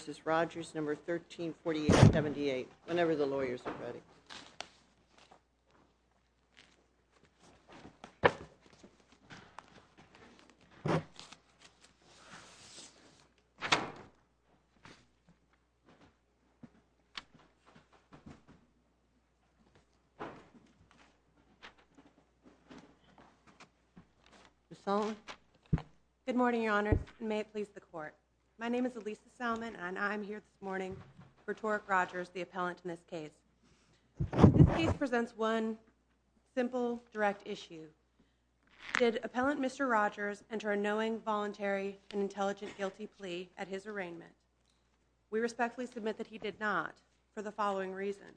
v. Rodgers, No. 134878, whenever the lawyers are ready. Good morning, Your Honors, and may it please the Court. My name is Elisa Salmon, and I'm here this morning for Torrick Rodgers, the appellant in this case. This case presents one simple, direct issue. Did Appellant Mr. Rodgers enter a knowing, voluntary, and intelligent guilty plea at his arraignment? We respectfully submit that he did not, for the following reason.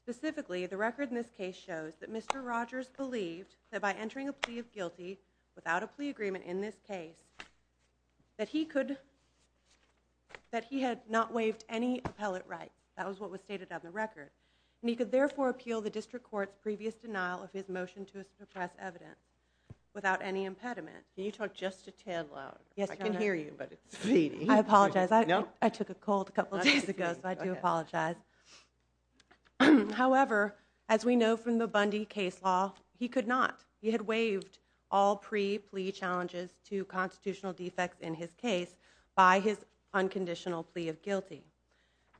Specifically, the record in this case shows that Mr. Rodgers believed that by entering a plea of guilty without a plea agreement in this case, that he could, that he had not waived any appellate right. That was what was stated on the record. And he could therefore appeal the District Court's previous denial of his motion to suppress evidence without any impediment. Can you talk just a tad louder? Yes, Your Honor. I can hear you, but it's fleeting. I apologize. I took a cold a couple days ago, so I do apologize. However, as we know from the Bundy case law, he could not. He had waived all pre-plea challenges to constitutional defects in his case by his unconditional plea of guilty.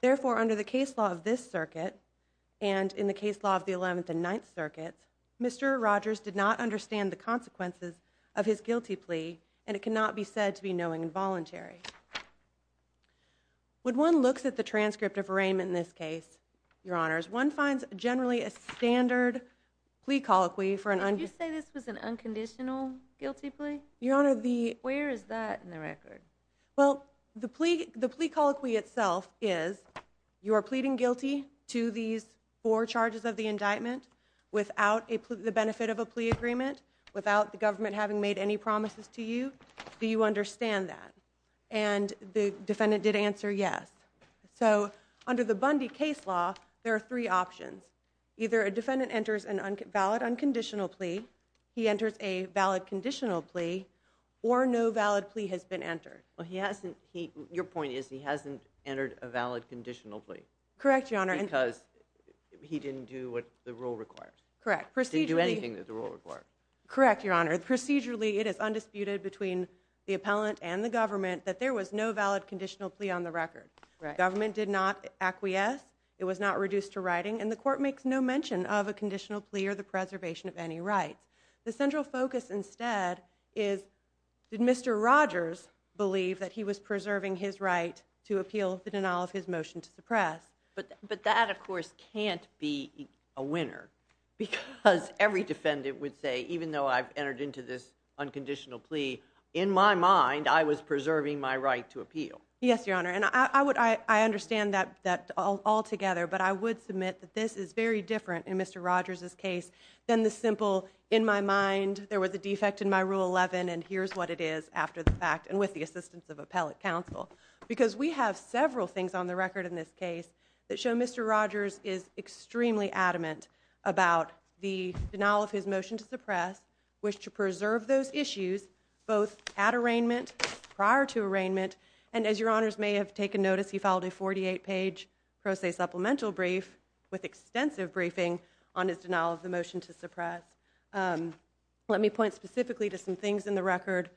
Therefore, under the case law of this circuit, and in the case law of the Eleventh and Ninth Circuits, Mr. Rodgers did not understand the consequences of his guilty plea, and it cannot be said to be knowing and voluntary. When one looks at the transcript of arraignment in this case, Your Honors, one finds generally a standard plea colloquy for an unconditional guilty plea. Where is that in the record? Well, the plea colloquy itself is you are pleading guilty to these four charges of the indictment without the benefit of a plea agreement, without the government having made any promises to you. Do you understand that? And the defendant did answer yes. So under the Bundy case law, there are three options. Either a defendant enters a valid unconditional plea, he enters a valid conditional plea, or no valid plea has been entered. Your point is he hasn't entered a valid conditional plea. Correct, Your Honor. Because he didn't do what the rule requires. Correct. He didn't do anything that the rule requires. Correct, Your Honor. Procedurally, it is undisputed between the plea on the record. Government did not acquiesce. It was not reduced to writing, and the court makes no mention of a conditional plea or the preservation of any rights. The central focus instead is, did Mr. Rogers believe that he was preserving his right to appeal the denial of his motion to suppress? But that, of course, can't be a winner, because every defendant would say, even though I've entered into this unconditional plea, in my mind, I was preserving my right to appeal. Yes, Your Honor. And I understand that altogether, but I would submit that this is very different in Mr. Rogers' case than the simple, in my mind, there was a defect in my Rule 11, and here's what it is after the fact, and with the assistance of appellate counsel. Because we have several things on the record in this case that show Mr. Rogers is extremely adamant about the denial of his motion to suppress, to preserve those issues, both at arraignment, prior to arraignment, and as Your Honors may have taken notice, he filed a 48-page pro se supplemental brief with extensive briefing on his denial of the motion to suppress. Let me point specifically to some things in the record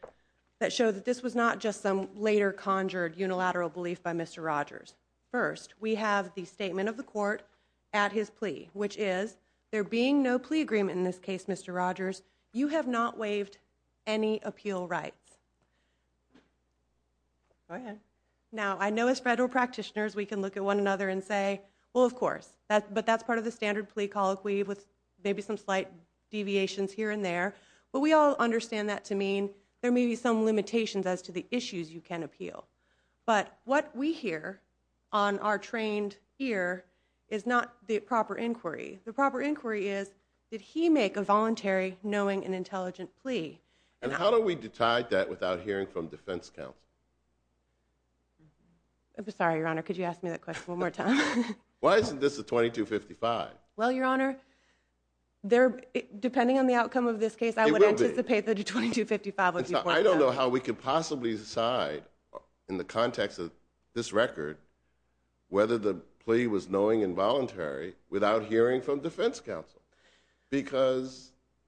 that show that this was not just some later conjured unilateral belief by Mr. Rogers. First, we have the statement of the court at his plea, which is, there being no plea agreement in this case, Mr. Rogers, you have not waived any appeal rights. Now, I know as federal practitioners, we can look at one another and say, well, of course, but that's part of the standard plea colloquy with maybe some slight deviations here and there, but we all understand that to mean there may be some limitations as to the issues you can appeal. But what we hear on our trained ear is not the proper inquiry. The proper inquiry is, did he make a voluntary, knowing and intelligent plea? And how do we decide that without hearing from defense counsel? I'm sorry, Your Honor, could you ask me that question one more time? Why isn't this a 2255? Well, Your Honor, depending on the outcome of this case, I would anticipate that a 2255 would be pointed out. I don't know how we could possibly decide, in the context of this record, whether the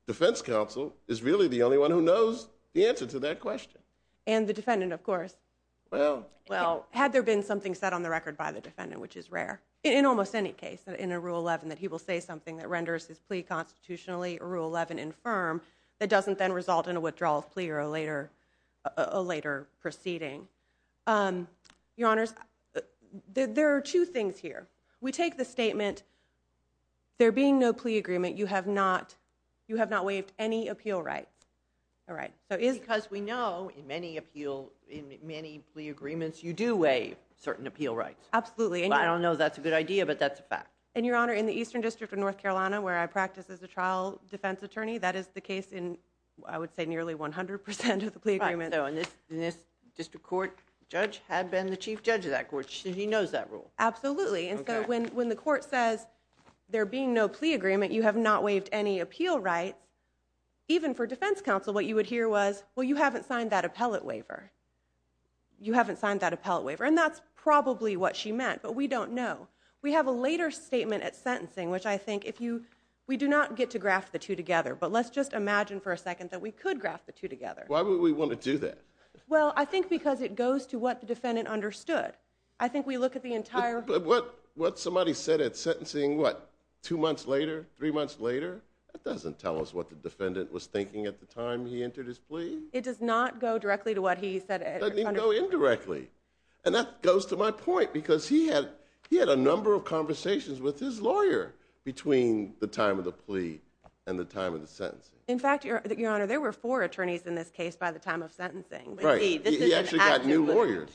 defense counsel is really the only one who knows the answer to that question. And the defendant, of course. Well, had there been something set on the record by the defendant, which is rare, in almost any case in a Rule 11, that he will say something that renders his plea constitutionally, Rule 11, infirm, that doesn't then result in a withdrawal of plea or a later proceeding. Um, Your Honors, there are two things here. We take the statement, there being no plea agreement, you have not, you have not waived any appeal rights. All right. Because we know, in many appeal, in many plea agreements, you do waive certain appeal rights. Absolutely. I don't know if that's a good idea, but that's a fact. And Your Honor, in the Eastern District of North Carolina, where I practice as a trial defense attorney, that is the case in, I would say, nearly 100% of the plea agreements. And this district court judge had been the chief judge of that court, so he knows that rule. Absolutely. And so when the court says, there being no plea agreement, you have not waived any appeal rights, even for defense counsel, what you would hear was, well, you haven't signed that appellate waiver. You haven't signed that appellate waiver. And that's probably what she meant, but we don't know. We have a later statement at sentencing, which I think, if you, we do not get to graph the two together, but let's just imagine for a second that we could graph the two together. Why would we want to do that? Well, I think because it goes to what the defendant understood. I think we look at the entire... But what somebody said at sentencing, what, two months later, three months later, that doesn't tell us what the defendant was thinking at the time he entered his plea. It does not go directly to what he said. It doesn't even go indirectly. And that goes to my point, because he had a number of conversations with his lawyer between the time of the plea and the time of the sentencing. In fact, Your Honor, there were four attorneys in this case by the time of sentencing. Right. He actually got new lawyers.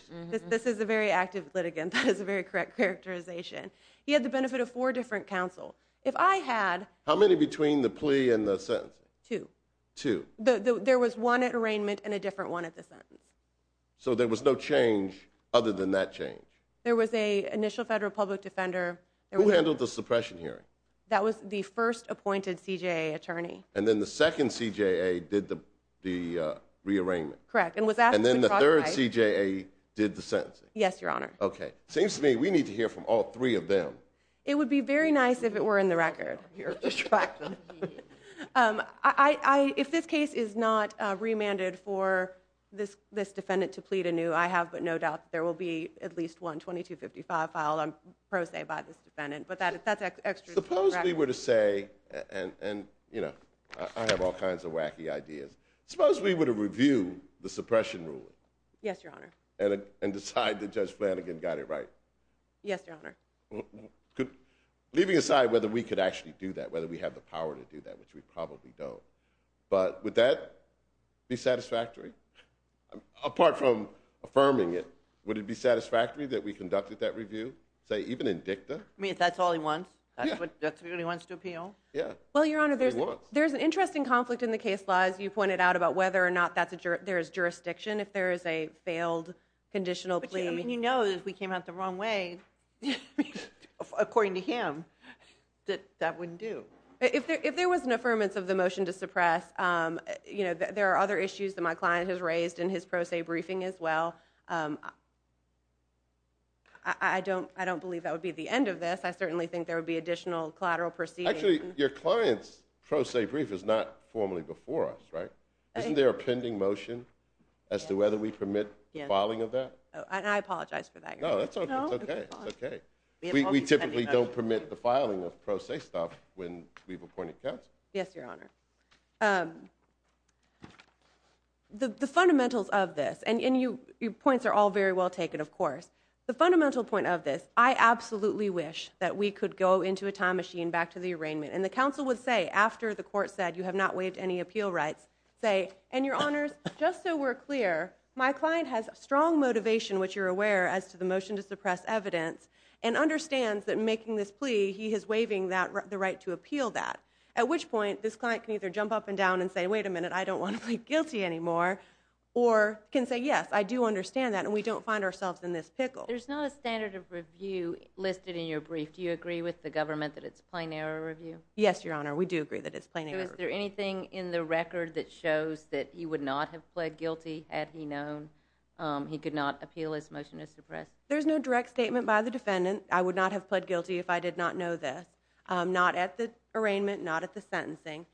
This is a very active litigant. That is a very correct characterization. He had the benefit of four different counsel. If I had... How many between the plea and the sentencing? Two. Two. There was one at arraignment and a different one at the sentence. So there was no change other than that change? There was a initial federal public defender. Who handled the suppression hearing? That was the first appointed CJA attorney. And then the second CJA did the rearrangement? Correct. And was asked to... And then the third CJA did the sentencing? Yes, Your Honor. Okay. Seems to me we need to hear from all three of them. It would be very nice if it were in the record. If this case is not remanded for this defendant to plead anew, I have but no doubt there will be at least one 2255 filed on pro se by this defendant. But that's extra... Suppose we were to say, and I have all kinds of wacky ideas. Suppose we were to review the suppression ruling? Yes, Your Honor. And decide that Judge Flanagan got it right? Yes, Your Honor. Leaving aside whether we could actually do that, whether we have the power to do that, which we probably don't. But would that be satisfactory? Apart from affirming it, would it be satisfactory that we conducted that review? Say, even in dicta? I mean, if that's all he wants? That's what he wants to appeal? Yeah. Well, Your Honor, there's an interesting conflict in the case law, as you pointed out, about whether or not there is jurisdiction if there is a failed conditional plea. But you know that if we came out the wrong way, according to him, that that wouldn't do. If there was an affirmance of the motion to suppress, there are other issues that my client has raised in his pro se briefing as well. I don't believe that would be the end of this. I certainly think there would be additional collateral proceedings. Actually, your client's pro se brief is not formally before us, right? Isn't there a pending motion as to whether we permit the filing of that? And I apologize for that, Your Honor. No, that's okay. It's okay. We typically don't permit the filing of pro se stuff when we've appointed counsel. Yes, Your Honor. The fundamentals of this, and your points are all very well taken, of course. The fundamental point of this, I absolutely wish that we could go into a time machine back to the arraignment. And the counsel would say, after the court said you have not waived any appeal rights, say, and Your Honors, just so we're clear, my client has strong motivation, which you're aware, as to the motion to suppress evidence, and understands that making this plea, he is waiving the right to appeal that. At which point, this client can either jump up and down and say, wait a minute, I don't want to plead guilty anymore, or can say, yes, I do understand that, and we don't find ourselves in this pickle. There's not a standard of review listed in your brief. Do you agree with the government that it's a plain error review? Yes, Your Honor. We do agree that it's a plain error review. Is there anything in the record that shows that he would not have pled guilty had he known he could not appeal his motion to suppress? There's no direct statement by the defendant. I would not have pled guilty if I did not know this. Not at the arraignment, not at the sentencing.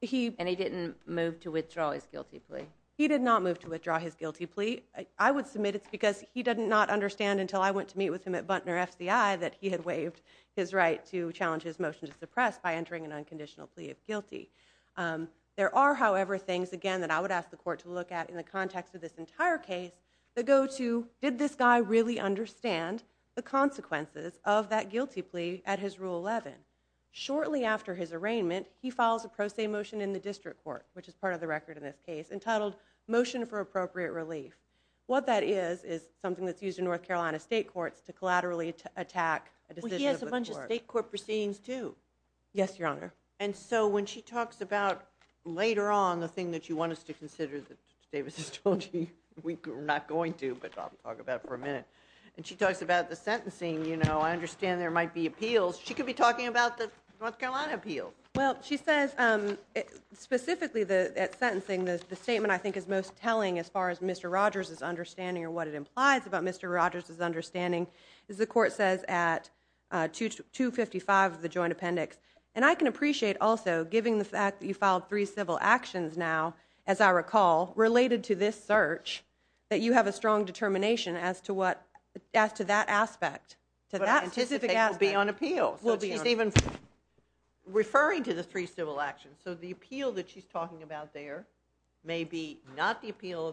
And he didn't move to withdraw his guilty plea? He did not move to withdraw his guilty plea. I would submit it's because he did not understand until I went to meet with him at Buntner FCI that he had waived his right to challenge his motion to suppress by entering an unconditional plea of guilty. There are, however, things, again, that I would ask the court to look at in the context of this entire case that go to, did this guy really understand the consequences of that guilty plea at his Rule 11? Shortly after his arraignment, he files a pro se motion in the district court, which is part of the record in this case, entitled Motion for Appropriate Relief. What that is is something that's used in North Carolina state courts to collaterally attack a decision of the court. He has a bunch of state court proceedings, too. Yes, Your Honor. And so when she talks about later on the thing that you want us to consider that Davis has told you we're not going to, but I'll talk about it for a minute, and she talks about the sentencing, you know, I understand there might be appeals. She could be talking about the North Carolina appeals. Well, she says specifically that sentencing, the statement I think is most telling as far as Mr. Rogers' understanding or what it implies about Mr. Rogers' understanding is the court says at 255 of the joint appendix. And I can appreciate also, given the fact that you filed three civil actions now, as I recall, related to this search, that you have a strong determination as to what, as to that aspect, to that specific aspect. But I anticipate it will be on appeal. So she's even referring to the three civil actions. So the appeal that she's talking about there may be not the appeal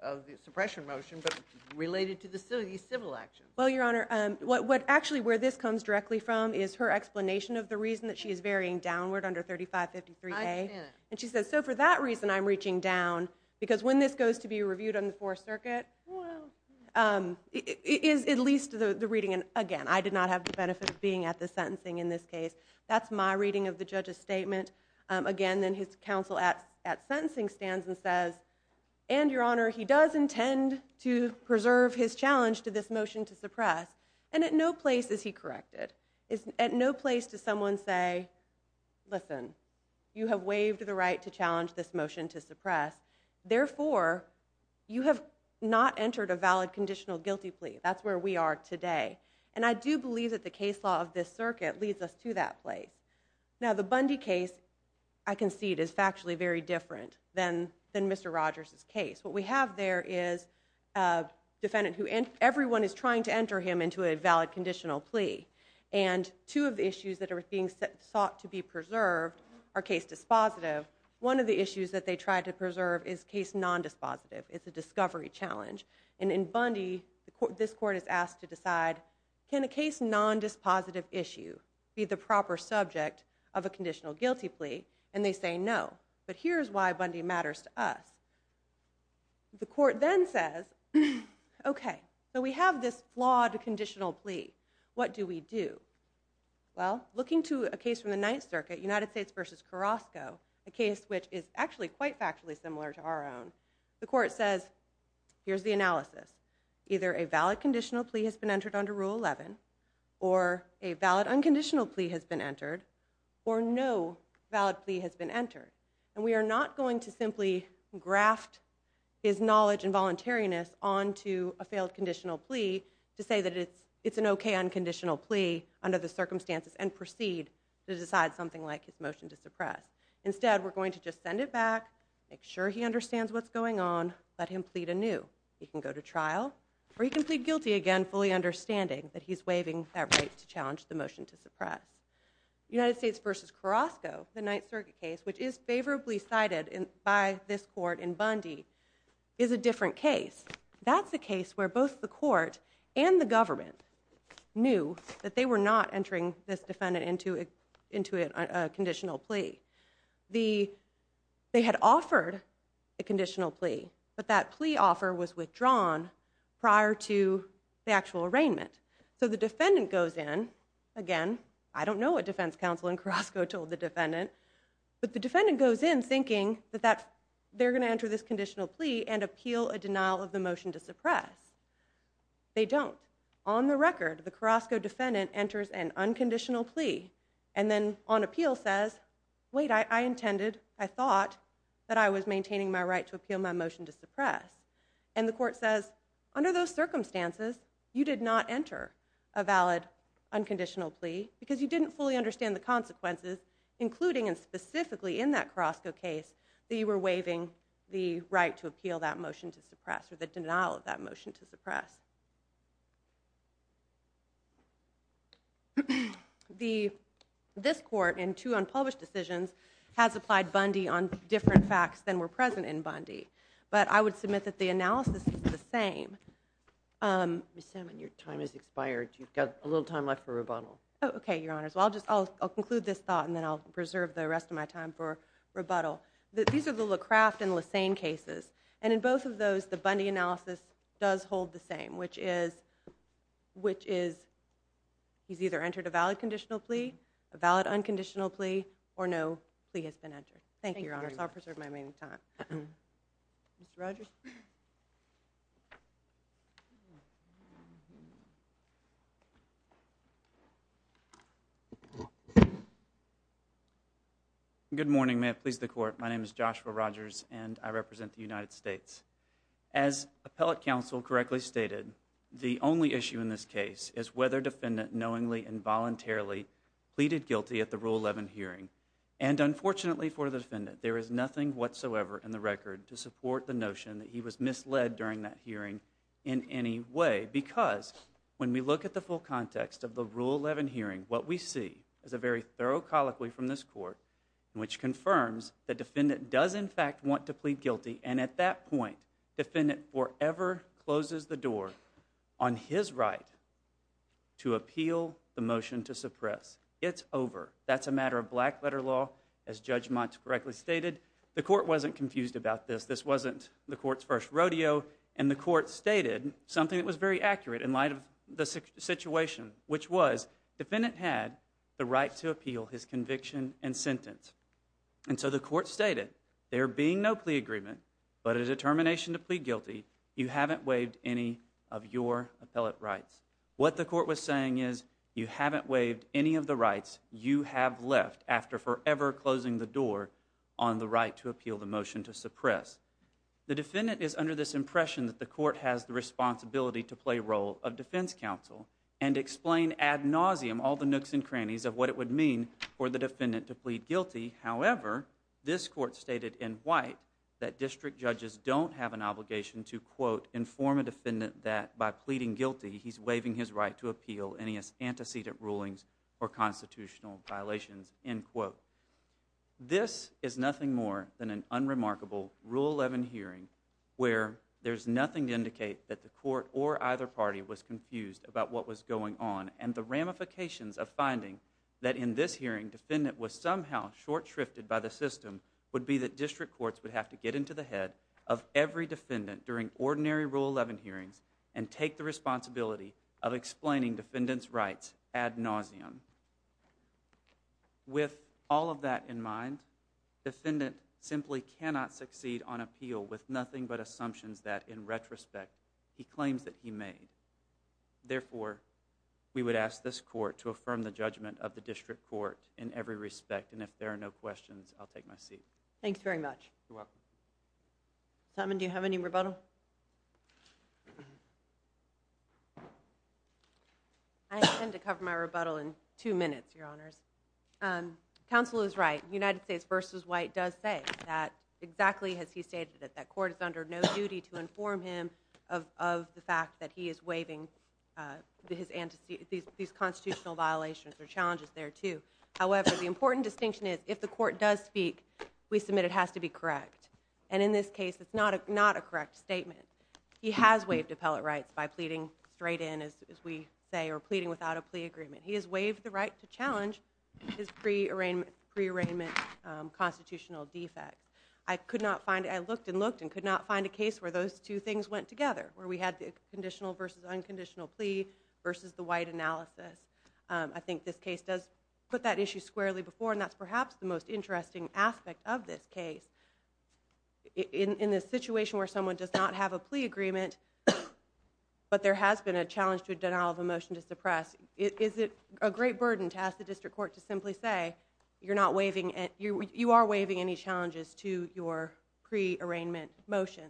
of the suppression motion, but related to the civil actions. Well, Your Honor, what actually where this comes directly from is her explanation of the reason that she is varying downward under 3553A. And she says, so for that reason I'm reaching down, because when this goes to be reviewed on the Fourth Circuit, is at least the reading, and again, I did not have the benefit of being at the sentencing in this case. That's my reading of the judge's statement. Again, then his counsel at sentencing stands and says, and Your Honor, he does intend to preserve his challenge to this motion to suppress. And at no place is he corrected. It's at no place does someone say, listen, you have waived the right to challenge this motion to suppress. Therefore, you have not entered a valid conditional guilty plea. That's where we are today. And I do believe that the case law of this circuit leads us to that place. Now, the Bundy case, I concede, is factually very different than Mr. Rogers' case. What we have there is a defendant who everyone is trying to enter him into a valid conditional plea. And two of the issues that are being sought to be preserved are case dispositive. One of the issues that they tried to preserve is case non-dispositive. It's a discovery challenge. And in Bundy, this court is asked to decide, can a case non-dispositive issue be the proper subject of a conditional guilty plea? And they say no. But here's why Bundy matters to us. The court then says, OK, so we have this flawed conditional plea. What do we do? Well, looking to a case from the Ninth Circuit, United States versus Carrasco, a case which is actually quite factually similar to our own. The court says, here's the analysis. Either a valid conditional plea has been entered under Rule 11, or a valid unconditional plea has been entered, or no valid plea has been entered. And we are not going to simply graft his knowledge and voluntariness onto a failed conditional plea to say that it's an OK unconditional plea under the circumstances and proceed to decide something like his motion to suppress. Instead, we're going to just send it back, make sure he understands what's going on, let him plead anew. He can go to trial, or he can plead guilty again, fully understanding that he's waiving that right to challenge the motion to suppress. United States versus Carrasco, the Ninth Circuit case, which is favorably cited by this court in Bundy, is a different case. That's a case where both the court and the government knew that they were not entering this defendant into a conditional plea. They had offered a conditional plea, but that plea offer was withdrawn prior to the actual arraignment. So the defendant goes in, again, I don't know what defense counsel in Carrasco told the defendant, but the defendant goes in thinking that they're going to enter this conditional plea and appeal a denial of the motion to suppress. They don't. On the record, the Carrasco defendant enters an unconditional plea, and then on appeal says, wait, I intended, I thought that I was maintaining my right to appeal my motion to suppress. And the court says, under those circumstances, you did not enter a valid unconditional plea because you didn't fully understand the consequences, including and specifically in that Carrasco case that you were waiving the right to appeal that motion to suppress or the denial of that motion to suppress. This court, in two unpublished decisions, has applied Bundy on different facts than were present in Bundy. But I would submit that the analysis is the same. Ms. Salmon, your time has expired. You've got a little time left for rebuttal. Oh, OK, Your Honors. Well, I'll conclude this thought, and then I'll preserve the rest of my time for rebuttal. These are the LaCraft and Lesane cases. And in both of those, the Bundy analysis does hold the same, which is he's either entered a valid conditional plea, a valid unconditional plea, or no plea has been entered. Thank you, Your Honors. I'll preserve my remaining time. Mr. Rogers? Good morning. May it please the Court. My name is Joshua Rogers, and I represent the United States. As appellate counsel correctly stated, the only issue in this case is whether defendant knowingly and voluntarily pleaded guilty at the Rule 11 hearing. And unfortunately for the defendant, there is nothing whatsoever in the record to support the notion that he was misled during that hearing in any way. Because when we look at the full context of the Rule 11 hearing, what we see is a very does, in fact, want to plead guilty. And at that point, defendant forever closes the door on his right to appeal the motion to suppress. It's over. That's a matter of black-letter law, as Judge Mott correctly stated. The Court wasn't confused about this. This wasn't the Court's first rodeo. And the Court stated something that was very accurate in light of the situation, which was defendant had the right to appeal his conviction and sentence. And so the Court stated, there being no plea agreement, but a determination to plead guilty, you haven't waived any of your appellate rights. What the Court was saying is, you haven't waived any of the rights you have left after forever closing the door on the right to appeal the motion to suppress. The defendant is under this impression that the Court has the responsibility to play role of defense counsel and explain ad nauseum all the nooks and crannies of what it would for the defendant to plead guilty. However, this Court stated in white that district judges don't have an obligation to, quote, inform a defendant that by pleading guilty, he's waiving his right to appeal any antecedent rulings or constitutional violations, end quote. This is nothing more than an unremarkable Rule 11 hearing where there's nothing to indicate that the Court or either party was confused about what was going on and the ramifications of finding that in this hearing, defendant was somehow short shrifted by the system would be that district courts would have to get into the head of every defendant during ordinary Rule 11 hearings and take the responsibility of explaining defendant's rights ad nauseum. With all of that in mind, defendant simply cannot succeed on appeal with nothing but assumptions that, in retrospect, he claims that he made. Therefore, we would ask this Court to affirm the judgment of the district court in every respect, and if there are no questions, I'll take my seat. Thanks very much. You're welcome. Simon, do you have any rebuttal? I intend to cover my rebuttal in two minutes, Your Honors. Counsel is right. United States v. White does say that, exactly as he stated it, that Court is under no duty to inform him of the fact that he is waiving these constitutional violations or challenges there, too. However, the important distinction is, if the Court does speak, we submit it has to be correct. And in this case, it's not a correct statement. He has waived appellate rights by pleading straight in, as we say, or pleading without a plea agreement. He has waived the right to challenge his pre-arraignment constitutional defect. I could not find it. I looked and looked and could not find a case where those two things went together, where we had the conditional v. unconditional plea v. the White analysis. I think this case does put that issue squarely before, and that's perhaps the most interesting aspect of this case. In this situation where someone does not have a plea agreement, but there has been a challenge to a denial of a motion to suppress, is it a great burden to ask the district court to you are waiving any challenges to your pre-arraignment motion?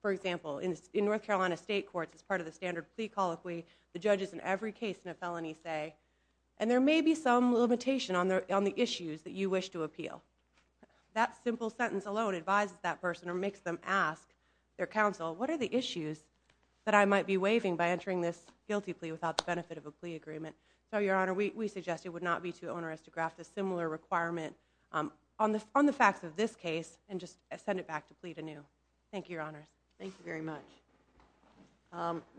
For example, in North Carolina state courts, as part of the standard plea colloquy, the judges in every case in a felony say, and there may be some limitation on the issues that you wish to appeal. That simple sentence alone advises that person or makes them ask their counsel, what are the issues that I might be waiving by entering this guilty plea without the benefit of a plea agreement? Your Honor, we suggest it would not be too onerous to graft a similar requirement on the facts of this case and just send it back to plea to new. Thank you, Your Honors. Thank you very much.